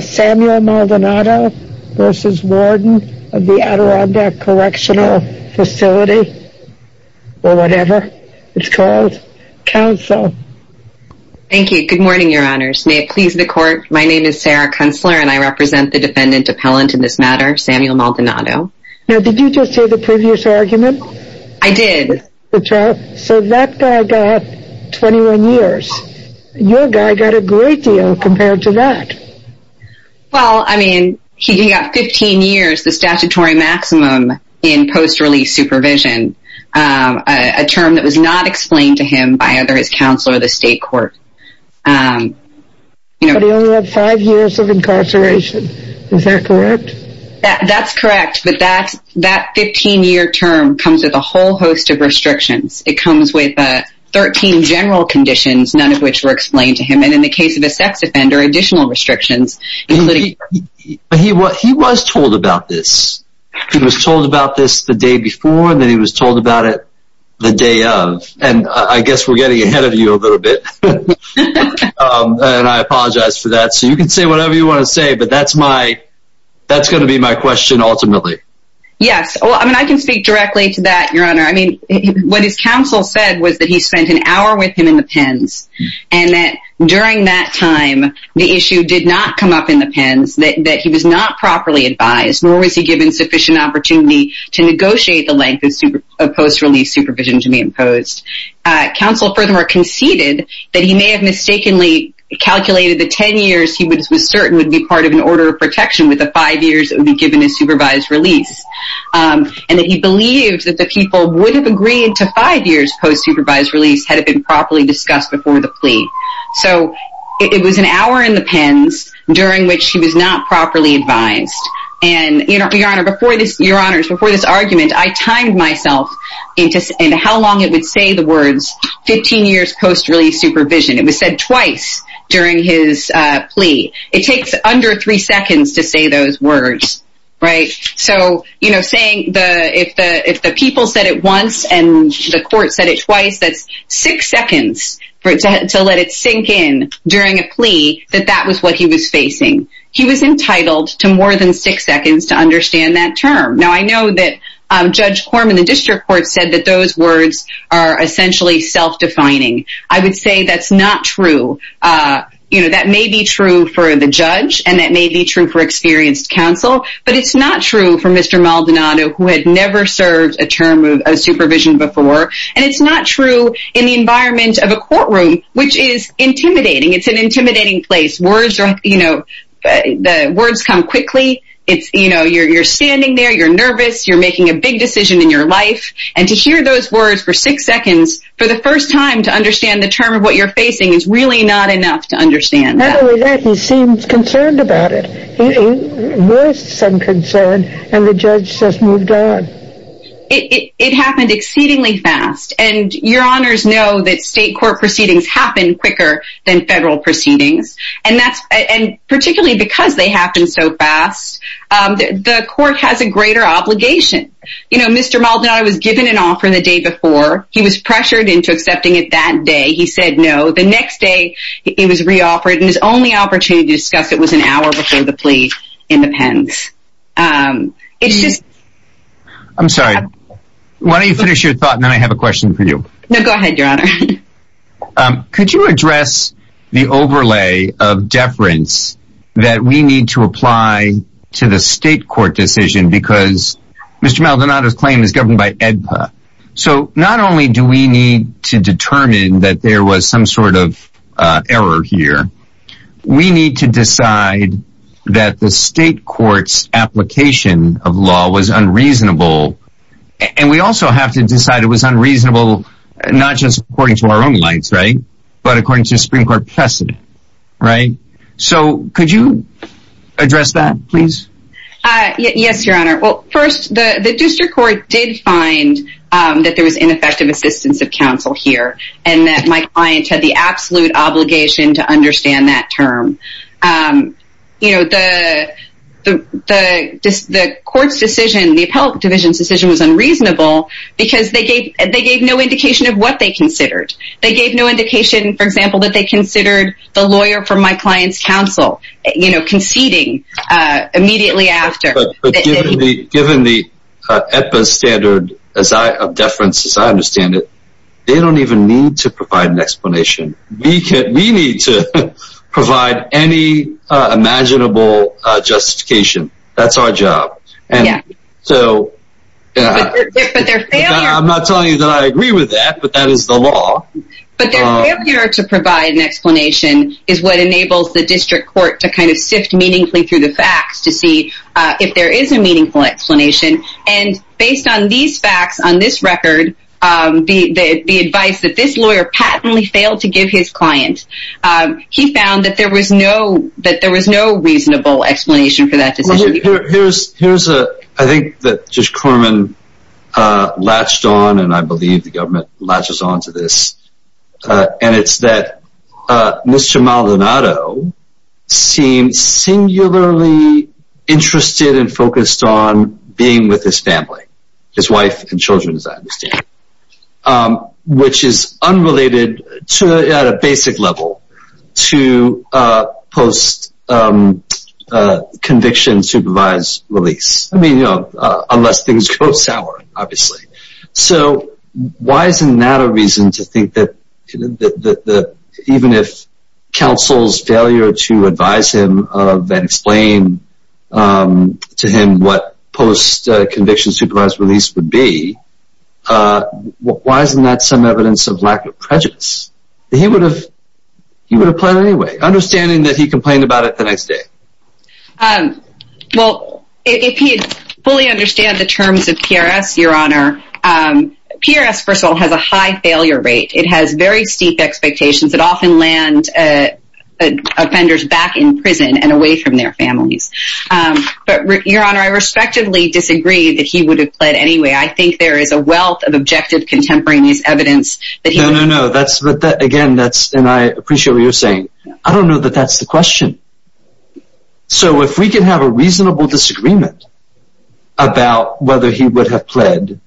Samuel Maldonado v. Warden Adirondack Correctional Facility Counsel Good morning, Your Honors. May it please the Court, my name is Sarah Kunstler and I represent the defendant appellant in this matter, Samuel Maldonado. Did you just say the previous argument? I did. So that guy got 21 years. Your guy got a great deal compared to that. Well, I mean, he got 15 years, the statutory maximum in post-release supervision, a term that was not explained to him by either his counsel or the state court. But he only had 5 years of incarceration. Is that correct? That's correct. But that 15-year term comes with a whole host of restrictions. It comes with 13 general conditions, none of which were explained to him. And in the case of a sex offender, additional restrictions. But he was told about this. He was told about this the day before and then he was told about it the day of. And I guess we're getting ahead of you a little bit. And I apologize for that. So you can say whatever you want to say, but that's my, that's going to be my question ultimately. Yes. Well, I mean, I can speak directly to that, Your Honor. I mean, what his counsel said was that he spent an hour with him in the pens. And that during that time, the issue did not come up in the pens, that he was not properly advised, nor was he given sufficient opportunity to negotiate the length of post-release supervision to be imposed. Counsel furthermore conceded that he may have mistakenly calculated the 10 years he was certain would be part of an order of protection with the 5 years that would be given as supervised release. And that he believed that the people would have agreed to 5 years post-supervised release had it been properly discussed before the plea. So it was an hour in the pens during which he was not properly advised. And Your Honor, before this argument, I timed myself into how long it would say the words 15 years post-release supervision. It was said twice during his plea. It takes under 3 seconds to say those words. Right. So, you know, saying if the people said it once and the court said it twice, that's 6 seconds to let it sink in during a plea that that was what he was facing. He was entitled to more than 6 seconds to understand that term. Now, I know that Judge Corman, the district court, said that those words are essentially self-defining. I would say that's not true. You know, that may be true for the judge and that may be true for experienced counsel. But it's not true for Mr. Maldonado, who had never served a term of supervision before. And it's not true in the environment of a courtroom, which is intimidating. It's an intimidating place. Words are, you know, the words come quickly. It's, you know, you're standing there, you're nervous, you're making a big decision in your life. And to hear those words for 6 seconds for the first time to understand the term of what you're facing is really not enough to understand that. Not only that, he seemed concerned about it. He voiced some concern and the judge just moved on. It happened exceedingly fast. And your honors know that state court proceedings happen quicker than federal proceedings. And that's, and particularly because they happen so fast, the court has a greater obligation. You know, Mr. Maldonado was given an offer the day before. He was pressured into accepting it that day. He said no. The next day, he was re-offered and his only opportunity to discuss it was an hour before the plea in the pens. It's just... I'm sorry. Why don't you finish your thought and then I have a question for you. No, go ahead, your honor. Could you address the overlay of deference that we need to apply to the state court decision? Because Mr. Maldonado's claim is governed by AEDPA. So not only do we need to determine that there was some sort of error here, we need to decide that the state court's application of law was unreasonable. And we also have to decide it was unreasonable not just according to our own rights, right? But according to the Supreme Court precedent, right? So could you address that, please? Yes, your honor. Well, first, the district court did find that there was ineffective assistance of counsel here. And that my client had the absolute obligation to understand that term. You know, the court's decision, the appellate division's decision was unreasonable because they gave no indication of what they considered. They gave no indication, for example, that they considered the lawyer from my client's counsel, you know, conceding immediately after. But given the AEDPA standard of deference as I understand it, they don't even need to provide an explanation. We need to provide any imaginable justification. That's our job. Yeah. So... But their failure... I'm not telling you that I agree with that, but that is the law. But their failure to provide an explanation is what enables the district court to kind of sift meaningfully through the facts to see if there is a meaningful explanation. And based on these facts, on this record, the advice that this lawyer patently failed to give his client, he found that there was no reasonable explanation for that decision. Here's a... I think that Judge Corman latched on, and I believe the government latches on to this. And it's that Mr. Maldonado seems singularly interested and focused on being with his family, his wife and children, as I understand. Which is unrelated at a basic level to post-conviction supervised release. I mean, you know, unless things go sour, obviously. So why isn't that a reason to think that even if counsel's failure to advise him and explain to him what post-conviction supervised release would be, why isn't that some evidence of lack of prejudice? He would have planned it anyway, understanding that he complained about it the next day. Well, if he fully understands the terms of PRS, Your Honor, PRS, first of all, has a high failure rate. It has very steep expectations that often land offenders back in prison and away from their families. But, Your Honor, I respectively disagree that he would have planned it anyway. I think there is a wealth of objective contemporaneous evidence that he... No, no, no. That's... Again, that's... And I appreciate what you're saying. I don't know that that's the question. So if we can have a reasonable disagreement about whether he would have pled...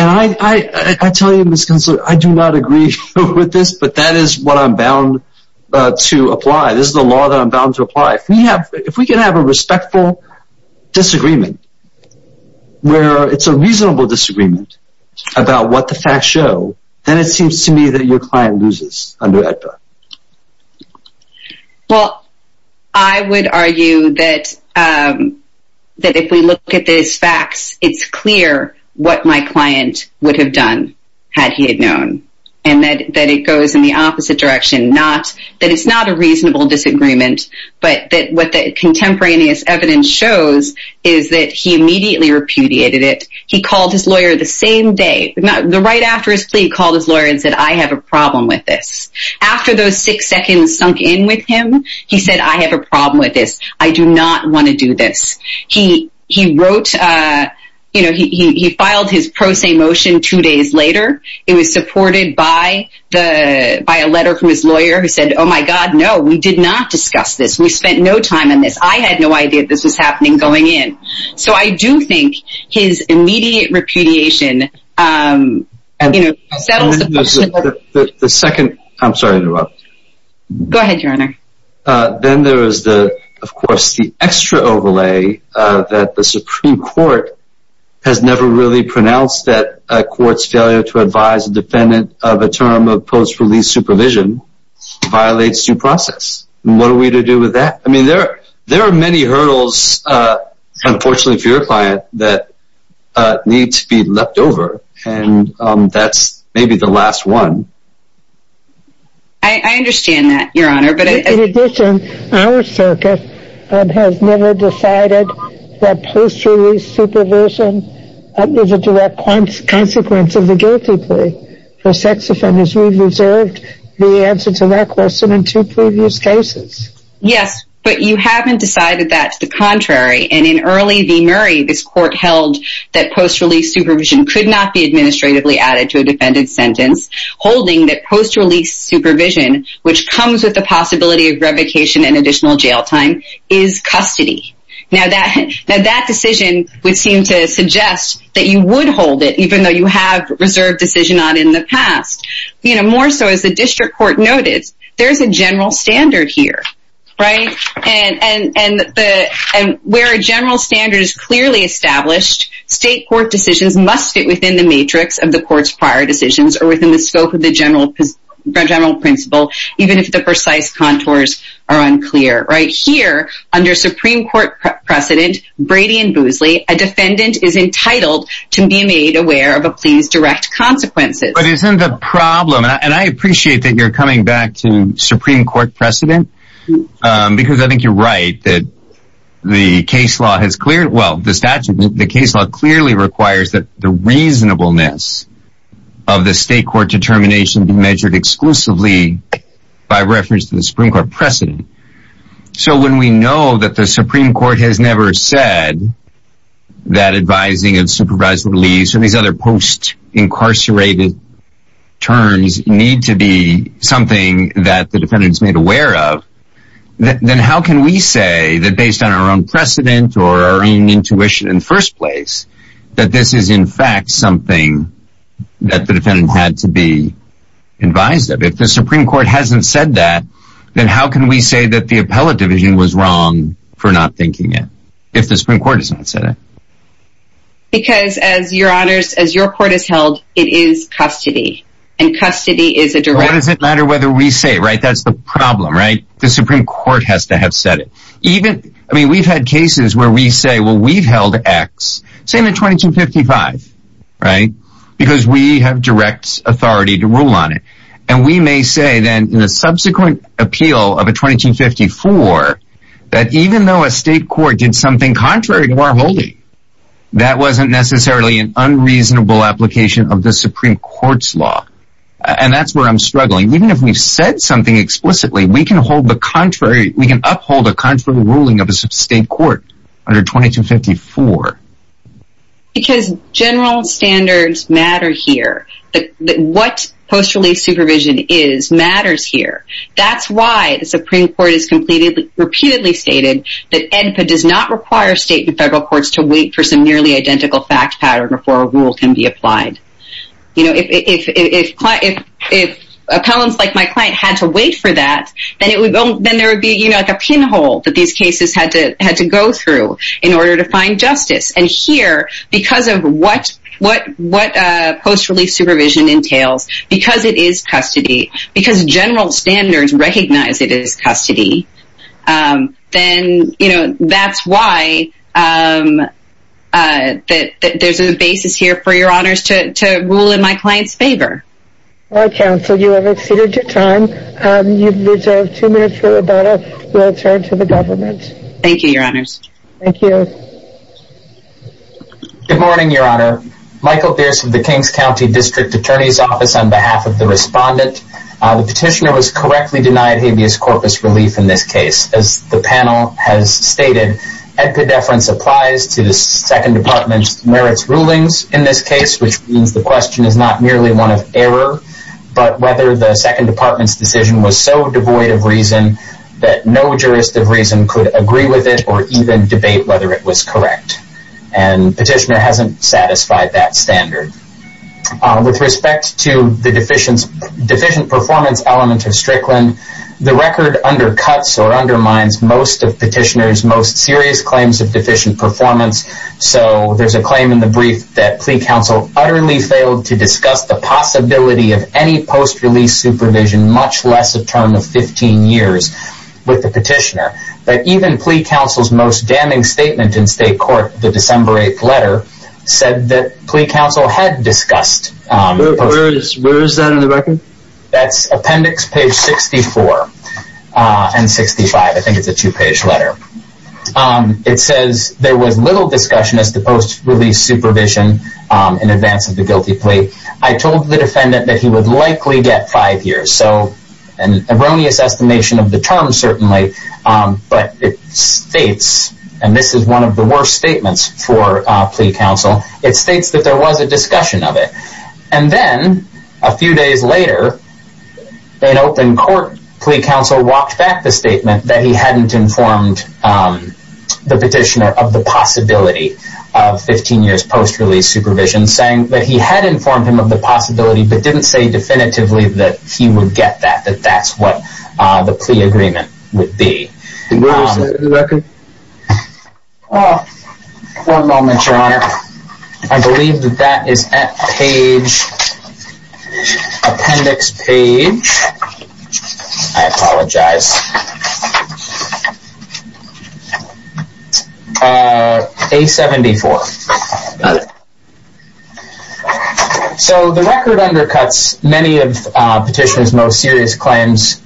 And I tell you, Ms. Consular, I do not agree with this, but that is what I'm bound to apply. This is the law that I'm bound to apply. If we can have a respectful disagreement where it's a reasonable disagreement about what the facts show, then it seems to me that your client loses under AEDPA. Well, I would argue that if we look at these facts, it's clear what my client would have done had he had known. And that it goes in the opposite direction, that it's not a reasonable disagreement, but that what the contemporaneous evidence shows is that he immediately repudiated it. He called his lawyer the same day, the right after his plea, called his lawyer and said, I have a problem with this. After those six seconds sunk in with him, he said, I have a problem with this. I do not want to do this. He wrote, you know, he filed his pro se motion two days later. It was supported by a letter from his lawyer who said, oh my God, no, we did not discuss this. We spent no time on this. I had no idea this was happening going in. So I do think his immediate repudiation, you know, settles the question. I'm sorry to interrupt. Go ahead, your Honor. Then there is, of course, the extra overlay that the Supreme Court has never really pronounced that a court's failure to advise a defendant of a term of post-release supervision violates due process. What are we to do with that? I mean, there are many hurdles, unfortunately for your client, that need to be left over. And that's maybe the last one. I understand that, your Honor. In addition, our circuit has never decided that post-release supervision is a direct consequence of the guilty plea. For sex offenders, we reserved the answer to that question in two previous cases. Yes, but you haven't decided that's the contrary. And in early v. Murray, this court held that post-release supervision could not be administratively added to a defendant's sentence, holding that post-release supervision, which comes with the possibility of revocation and additional jail time, is custody. Now, that decision would seem to suggest that you would hold it, even though you have reserved decision on it in the past. You know, more so, as the district court noted, there's a general standard here, right? And where a general standard is clearly established, state court decisions must fit within the matrix of the court's prior decisions, or within the scope of the general principle, even if the precise contours are unclear. Right here, under Supreme Court precedent, Brady and Boosley, a defendant is entitled to be made aware of a plea's direct consequences. But isn't the problem, and I appreciate that you're coming back to Supreme Court precedent, because I think you're right that the case law clearly requires that the reasonableness of the state court determination be measured exclusively by reference to the Supreme Court precedent. So when we know that the Supreme Court has never said that advising of supervised release, or these other post-incarcerated terms need to be something that the defendant is made aware of, then how can we say that based on our own precedent or our own intuition in the first place, that this is in fact something that the defendant had to be advised of? If the Supreme Court hasn't said that, then how can we say that the appellate division was wrong for not thinking it, if the Supreme Court has not said it? Because, as your court has held, it is custody. And custody is a direct... Well, it doesn't matter whether we say it, right? That's the problem, right? The Supreme Court has to have said it. I mean, we've had cases where we say, well, we've held X, same in 2255, right? Because we have direct authority to rule on it. And we may say, then, in a subsequent appeal of a 2254, that even though a state court did something contrary to our holding, that wasn't necessarily an unreasonable application of the Supreme Court's law. And that's where I'm struggling. Even if we've said something explicitly, we can uphold a contrary ruling of a state court under 2254. Because general standards matter here. What post-relief supervision is, matters here. That's why the Supreme Court has repeatedly stated that ENPA does not require state and federal courts to wait for some nearly identical fact pattern before a rule can be applied. If appellants like my client had to wait for that, then there would be a pinhole that these cases had to go through in order to find justice. And here, because of what post-relief supervision entails, because it is custody, because general standards recognize it as custody, then, you know, that's why there's a basis here for Your Honors to rule in my client's favor. All right, counsel, you have exceeded your time. You've reserved two minutes for rebuttal. We'll turn to the government. Thank you, Your Honors. Thank you. Good morning, Your Honor. Michael Pierce of the King's County District Attorney's Office on behalf of the respondent. The petitioner was correctly denied habeas corpus relief in this case. As the panel has stated, epidepherence applies to the Second Department's merits rulings in this case, which means the question is not merely one of error, but whether the Second Department's decision was so devoid of reason that no jurist of reason could agree with it or even debate whether it was correct. And petitioner hasn't satisfied that standard. With respect to the deficient performance element of Strickland, the record undercuts or undermines most of petitioner's most serious claims of deficient performance. So there's a claim in the brief that plea counsel utterly failed to discuss the possibility of any post-release supervision, much less a term of 15 years with the petitioner. But even plea counsel's most damning statement in state court, the December 8th letter, said that plea counsel had discussed. Where is that in the record? That's appendix page 64 and 65. I think it's a two-page letter. It says there was little discussion as to post-release supervision in advance of the guilty plea. I told the defendant that he would likely get five years. So an erroneous estimation of the term, certainly. But it states, and this is one of the worst statements for plea counsel, it states that there was a discussion of it. And then a few days later, an open court plea counsel walked back the statement that he hadn't informed the petitioner of the possibility of 15 years post-release supervision, saying that he had informed him of the possibility, but didn't say definitively that he would get that, that that's what the plea agreement would be. Where is that in the record? I believe that that is at page, appendix page, I apologize, A-74. So the record undercuts many of the petitioner's most serious claims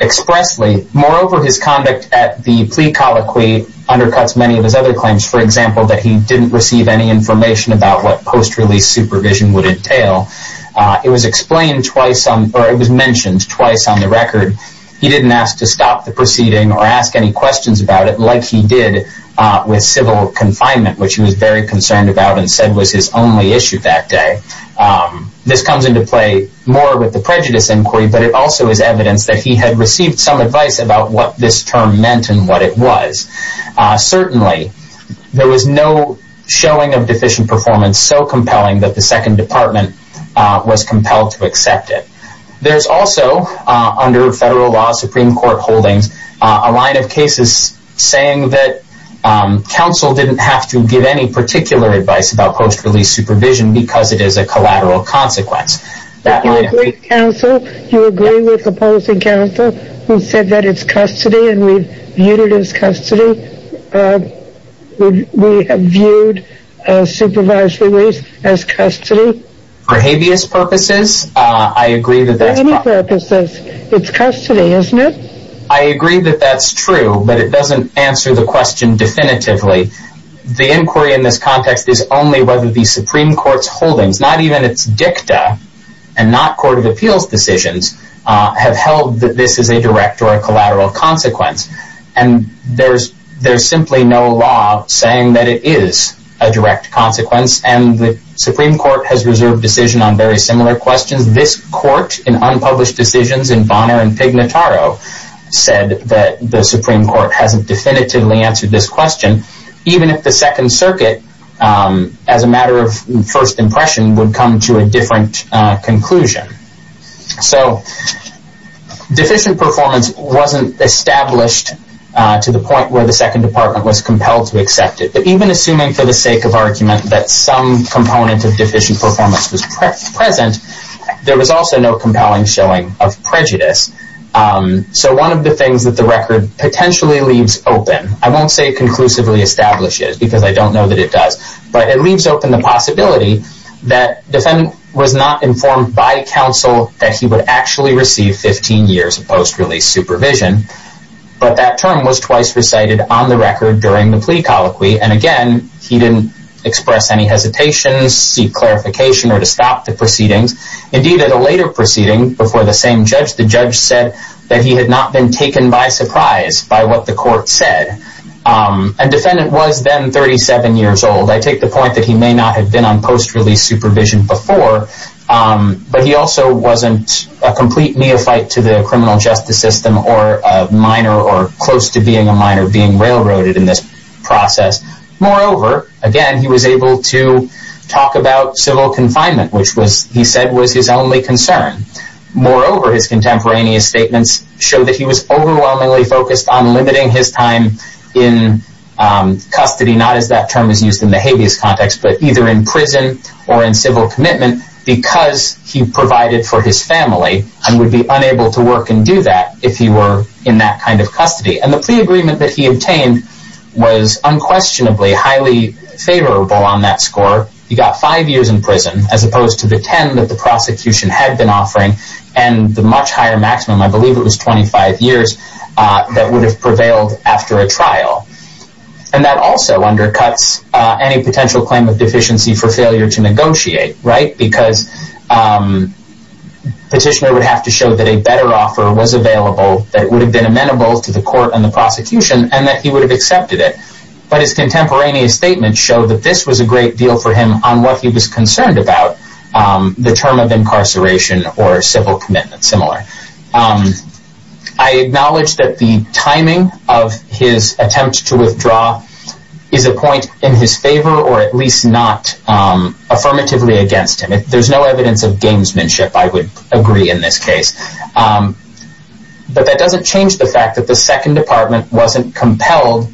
expressly. Moreover, his conduct at the plea colloquy undercuts many of his other claims. For example, that he didn't receive any information about what post-release supervision would entail. It was explained twice, or it was mentioned twice on the record. He didn't ask to stop the proceeding or ask any questions about it like he did with civil confinement, which he was very concerned about and said was his only issue that day. This comes into play more with the prejudice inquiry, but it also is evidence that he had received some advice about what this term meant and what it was. Certainly, there was no showing of deficient performance so compelling that the Second Department was compelled to accept it. There's also under federal law, Supreme Court holdings, a line of cases saying that counsel didn't have to give any particular advice about post-release supervision because it is a collateral consequence. But you agree with counsel? You agree with opposing counsel who said that it's custody and we've viewed it as custody? We have viewed supervised release as custody? For habeas purposes, I agree that that's... For any purposes, it's custody, isn't it? I agree that that's true, but it doesn't answer the question definitively. The inquiry in this context is only whether the Supreme Court's holdings, not even its dicta and not court of appeals decisions, have held that this is a direct or a collateral consequence. And there's simply no law saying that it is a direct consequence, and the Supreme Court has reserved decision on very similar questions. This court, in unpublished decisions in Bonner and Pignataro, said that the Supreme Court hasn't definitively answered this question, even if the Second Circuit, as a matter of first impression, would come to a different conclusion. So deficient performance wasn't established to the point where the Second Department was compelled to accept it. But even assuming for the sake of argument that some component of deficient performance was present, there was also no compelling showing of prejudice. So one of the things that the record potentially leaves open, I won't say conclusively establishes because I don't know that it does, but it leaves open the possibility that the defendant was not informed by counsel that he would actually receive 15 years of post-release supervision, but that term was twice recited on the record during the plea colloquy. And again, he didn't express any hesitations, seek clarification, or to stop the proceedings. Indeed, at a later proceeding before the same judge, the judge said that he had not been taken by surprise by what the court said. And defendant was then 37 years old. I take the point that he may not have been on post-release supervision before, but he also wasn't a complete neophyte to the criminal justice system or a minor or close to being a minor being railroaded in this process. Moreover, again, he was able to talk about civil confinement, which he said was his only concern. Moreover, his contemporaneous statements show that he was overwhelmingly focused on limiting his time in custody, not as that term is used in the habeas context, but either in prison or in civil commitment, because he provided for his family and would be unable to work and do that if he were in that kind of custody. And the plea agreement that he obtained was unquestionably highly favorable on that score. He got five years in prison as opposed to the 10 that the prosecution had been offering and the much higher maximum, I believe it was 25 years, that would have prevailed after a trial. And that also undercuts any potential claim of deficiency for failure to negotiate, right? Because petitioner would have to show that a better offer was available, that would have been amenable to the court and the prosecution, and that he would have accepted it. But his contemporaneous statements show that this was a great deal for him on what he was concerned about, the term of incarceration or civil commitment, similar. I acknowledge that the timing of his attempt to withdraw is a point in his favor or at least not affirmatively against him. There's no evidence of gamesmanship, I would agree in this case. But that doesn't change the fact that the second department wasn't compelled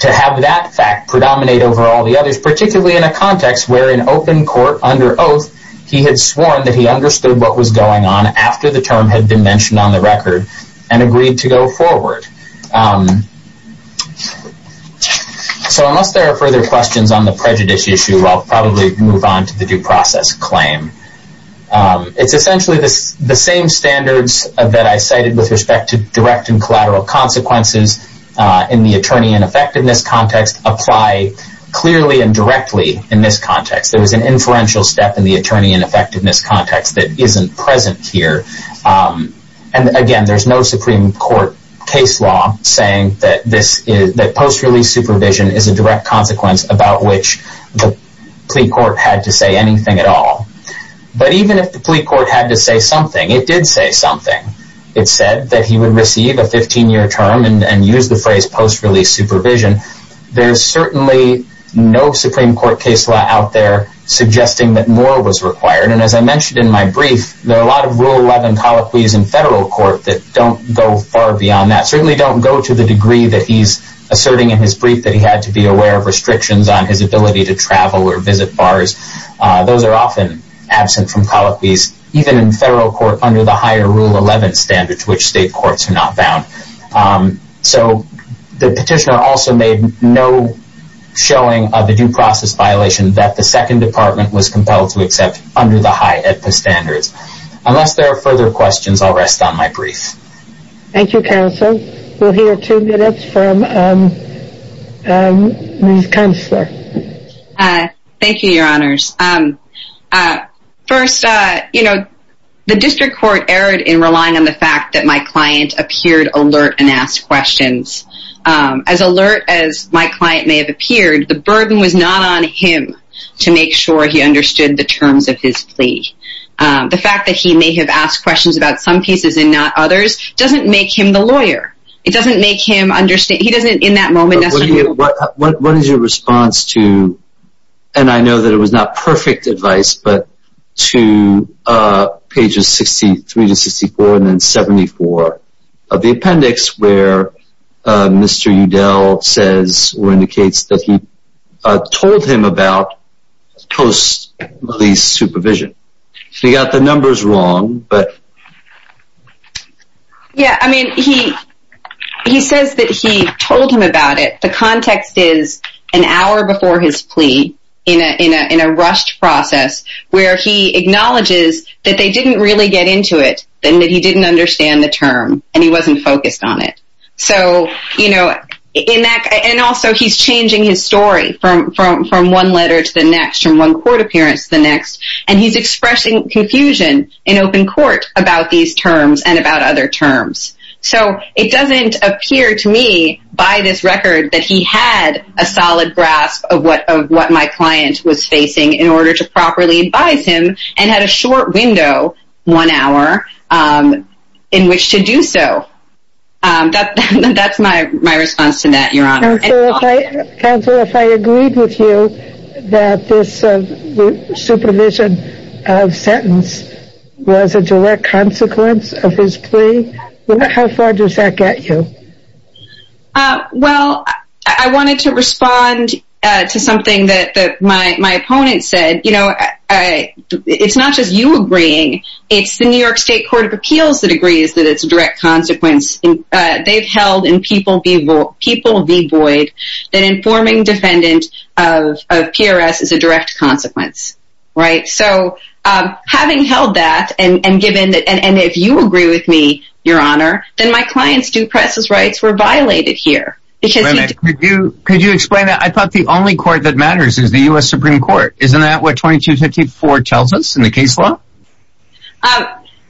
to have that fact predominate over all the others, particularly in a context where in open court under oath, he had sworn that he understood what was going on after the term had been mentioned on the record and agreed to go forward. So unless there are further questions on the prejudice issue, I'll probably move on to the due process claim. It's essentially the same standards that I cited with respect to direct and collateral consequences in the attorney-in-effectiveness context apply clearly and directly in this context. There is an inferential step in the attorney-in-effectiveness context that isn't present here. And again, there's no Supreme Court case law saying that post-release supervision is a direct consequence about which the plea court had to say anything at all. But even if the plea court had to say something, it did say something. It said that he would receive a 15-year term and use the phrase post-release supervision. There's certainly no Supreme Court case law out there suggesting that more was required. And as I mentioned in my brief, there are a lot of Rule 11 colloquies in federal court that don't go far beyond that, certainly don't go to the degree that he's asserting in his brief that he had to be aware of restrictions on his ability to travel or visit bars. Those are often absent from colloquies, even in federal court under the higher Rule 11 standards, which state courts are not bound. So the petitioner also made no showing of the due process violation that the Second Department was compelled to accept under the high AEDPA standards. Unless there are further questions, I'll rest on my brief. Thank you, counsel. We'll hear two minutes from Ms. Kunstler. Thank you, Your Honors. First, you know, the district court erred in relying on the fact that my client appeared alert and asked questions. As alert as my client may have appeared, the burden was not on him to make sure he understood the terms of his plea. The fact that he may have asked questions about some pieces and not others doesn't make him the lawyer. It doesn't make him understand. What is your response to, and I know that it was not perfect advice, but to pages 63 to 64 and then 74 of the appendix where Mr. Udell says or indicates that he told him about post-release supervision. He got the numbers wrong, but... Yeah, I mean, he says that he told him about it. The context is an hour before his plea in a rushed process where he acknowledges that they didn't really get into it and that he didn't understand the term and he wasn't focused on it. So, you know, and also he's changing his story from one letter to the next, from one court appearance to the next, and he's expressing confusion in open court about these terms and about other terms. So, it doesn't appear to me by this record that he had a solid grasp of what my client was facing in order to properly advise him and had a short window, one hour, in which to do so. That's my response to that, Your Honor. Counsel, if I agreed with you that this supervision of sentence was a direct consequence of his plea, how far does that get you? Well, I wanted to respond to something that my opponent said. You know, it's not just you agreeing, it's the New York State Court of Appeals that agrees that it's a direct consequence. They've held in people v. Boyd that informing defendant of PRS is a direct consequence, right? So, having held that, and if you agree with me, Your Honor, then my client's due process rights were violated here. Could you explain that? I thought the only court that matters is the U.S. Supreme Court. Isn't that what 2254 tells us in the case law?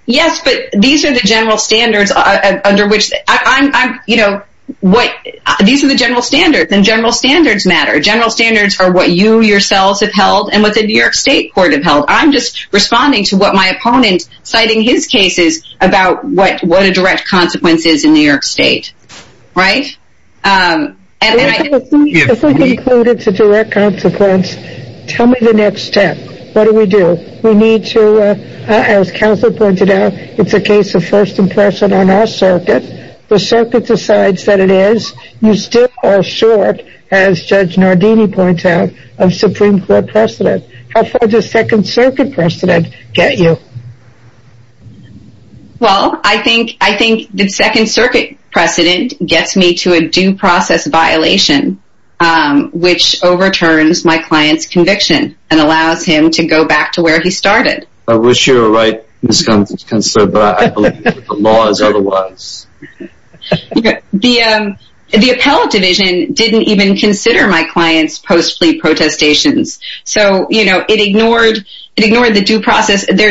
Yes, but these are the general standards, and general standards matter. General standards are what you yourselves have held and what the New York State Court have held. I'm just responding to what my opponent, citing his cases, about what a direct consequence is in New York State. If we conclude it's a direct consequence, tell me the next step. What do we do? We need to, as counsel pointed out, it's a case of first impression on our circuit. The circuit decides that it is. You still are short, as Judge Nardini points out, of Supreme Court precedent. How far does Second Circuit precedent get you? Well, I think the Second Circuit precedent gets me to a due process violation, which overturns my client's conviction and allows him to go back to where he started. I wish you were right, Ms. Kunstler, but I believe the law is otherwise. The appellate division didn't even consider my client's post-fleet protestations. Their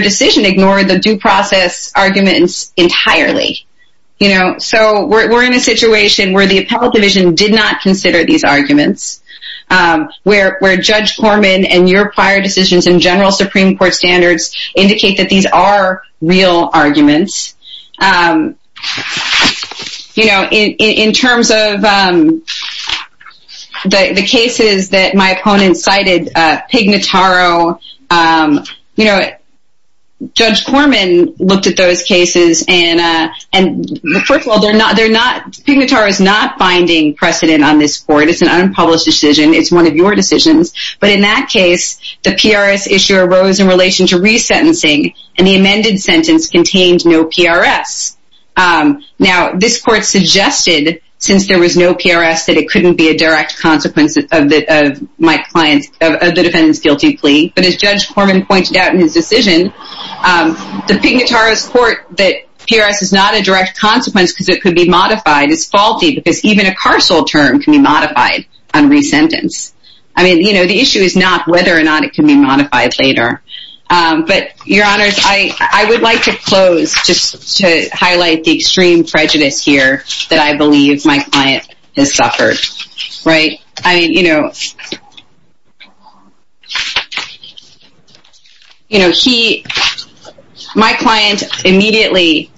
decision ignored the due process arguments entirely. We're in a situation where the appellate division did not consider these arguments, where Judge Horman and your prior decisions in general Supreme Court standards indicate that these are real arguments. In terms of the cases that my opponent cited, Pignataro, Judge Horman looked at those cases. First of all, Pignataro is not finding precedent on this court. It's an unpublished decision. It's one of your decisions. But in that case, the PRS issue arose in relation to resentencing, and the amended sentence contained no PRS. Now, this court suggested, since there was no PRS, that it couldn't be a direct consequence of the defendant's guilty plea. But as Judge Horman pointed out in his decision, the Pignataro's court that PRS is not a direct consequence because it could be modified is faulty, because even a carceral term can be modified on resentence. I mean, you know, the issue is not whether or not it can be modified later. But, your honors, I would like to close just to highlight the extreme prejudice here that I believe my client has suffered. My client immediately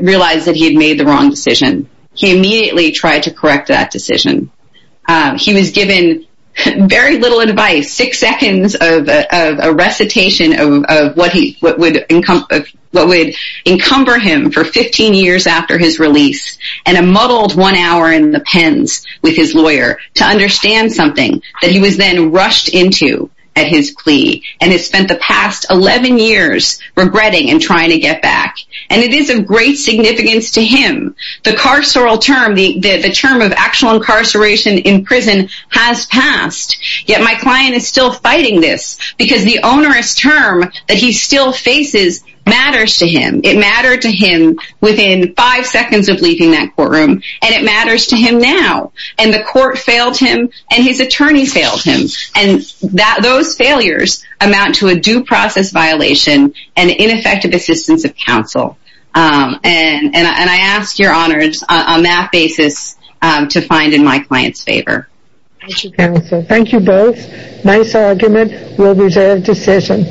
realized that he had made the wrong decision. He immediately tried to correct that decision. He was given very little advice, six seconds of a recitation of what would encumber him for 15 years after his release, and a muddled one hour in the pens with his lawyer to understand something that he was then rushed into at his plea, and has spent the past 11 years regretting and trying to get back. And it is of great significance to him. The carceral term, the term of actual incarceration in prison, has passed. Yet my client is still fighting this, because the onerous term that he still faces matters to him. It mattered to him within five seconds of leaving that courtroom, and it matters to him now. And the court failed him, and his attorney failed him. And those failures amount to a due process violation and ineffective assistance of counsel. And I ask your honors, on that basis, to find in my client's favor. Thank you, counsel. Thank you both. Nice argument. We'll reserve decision.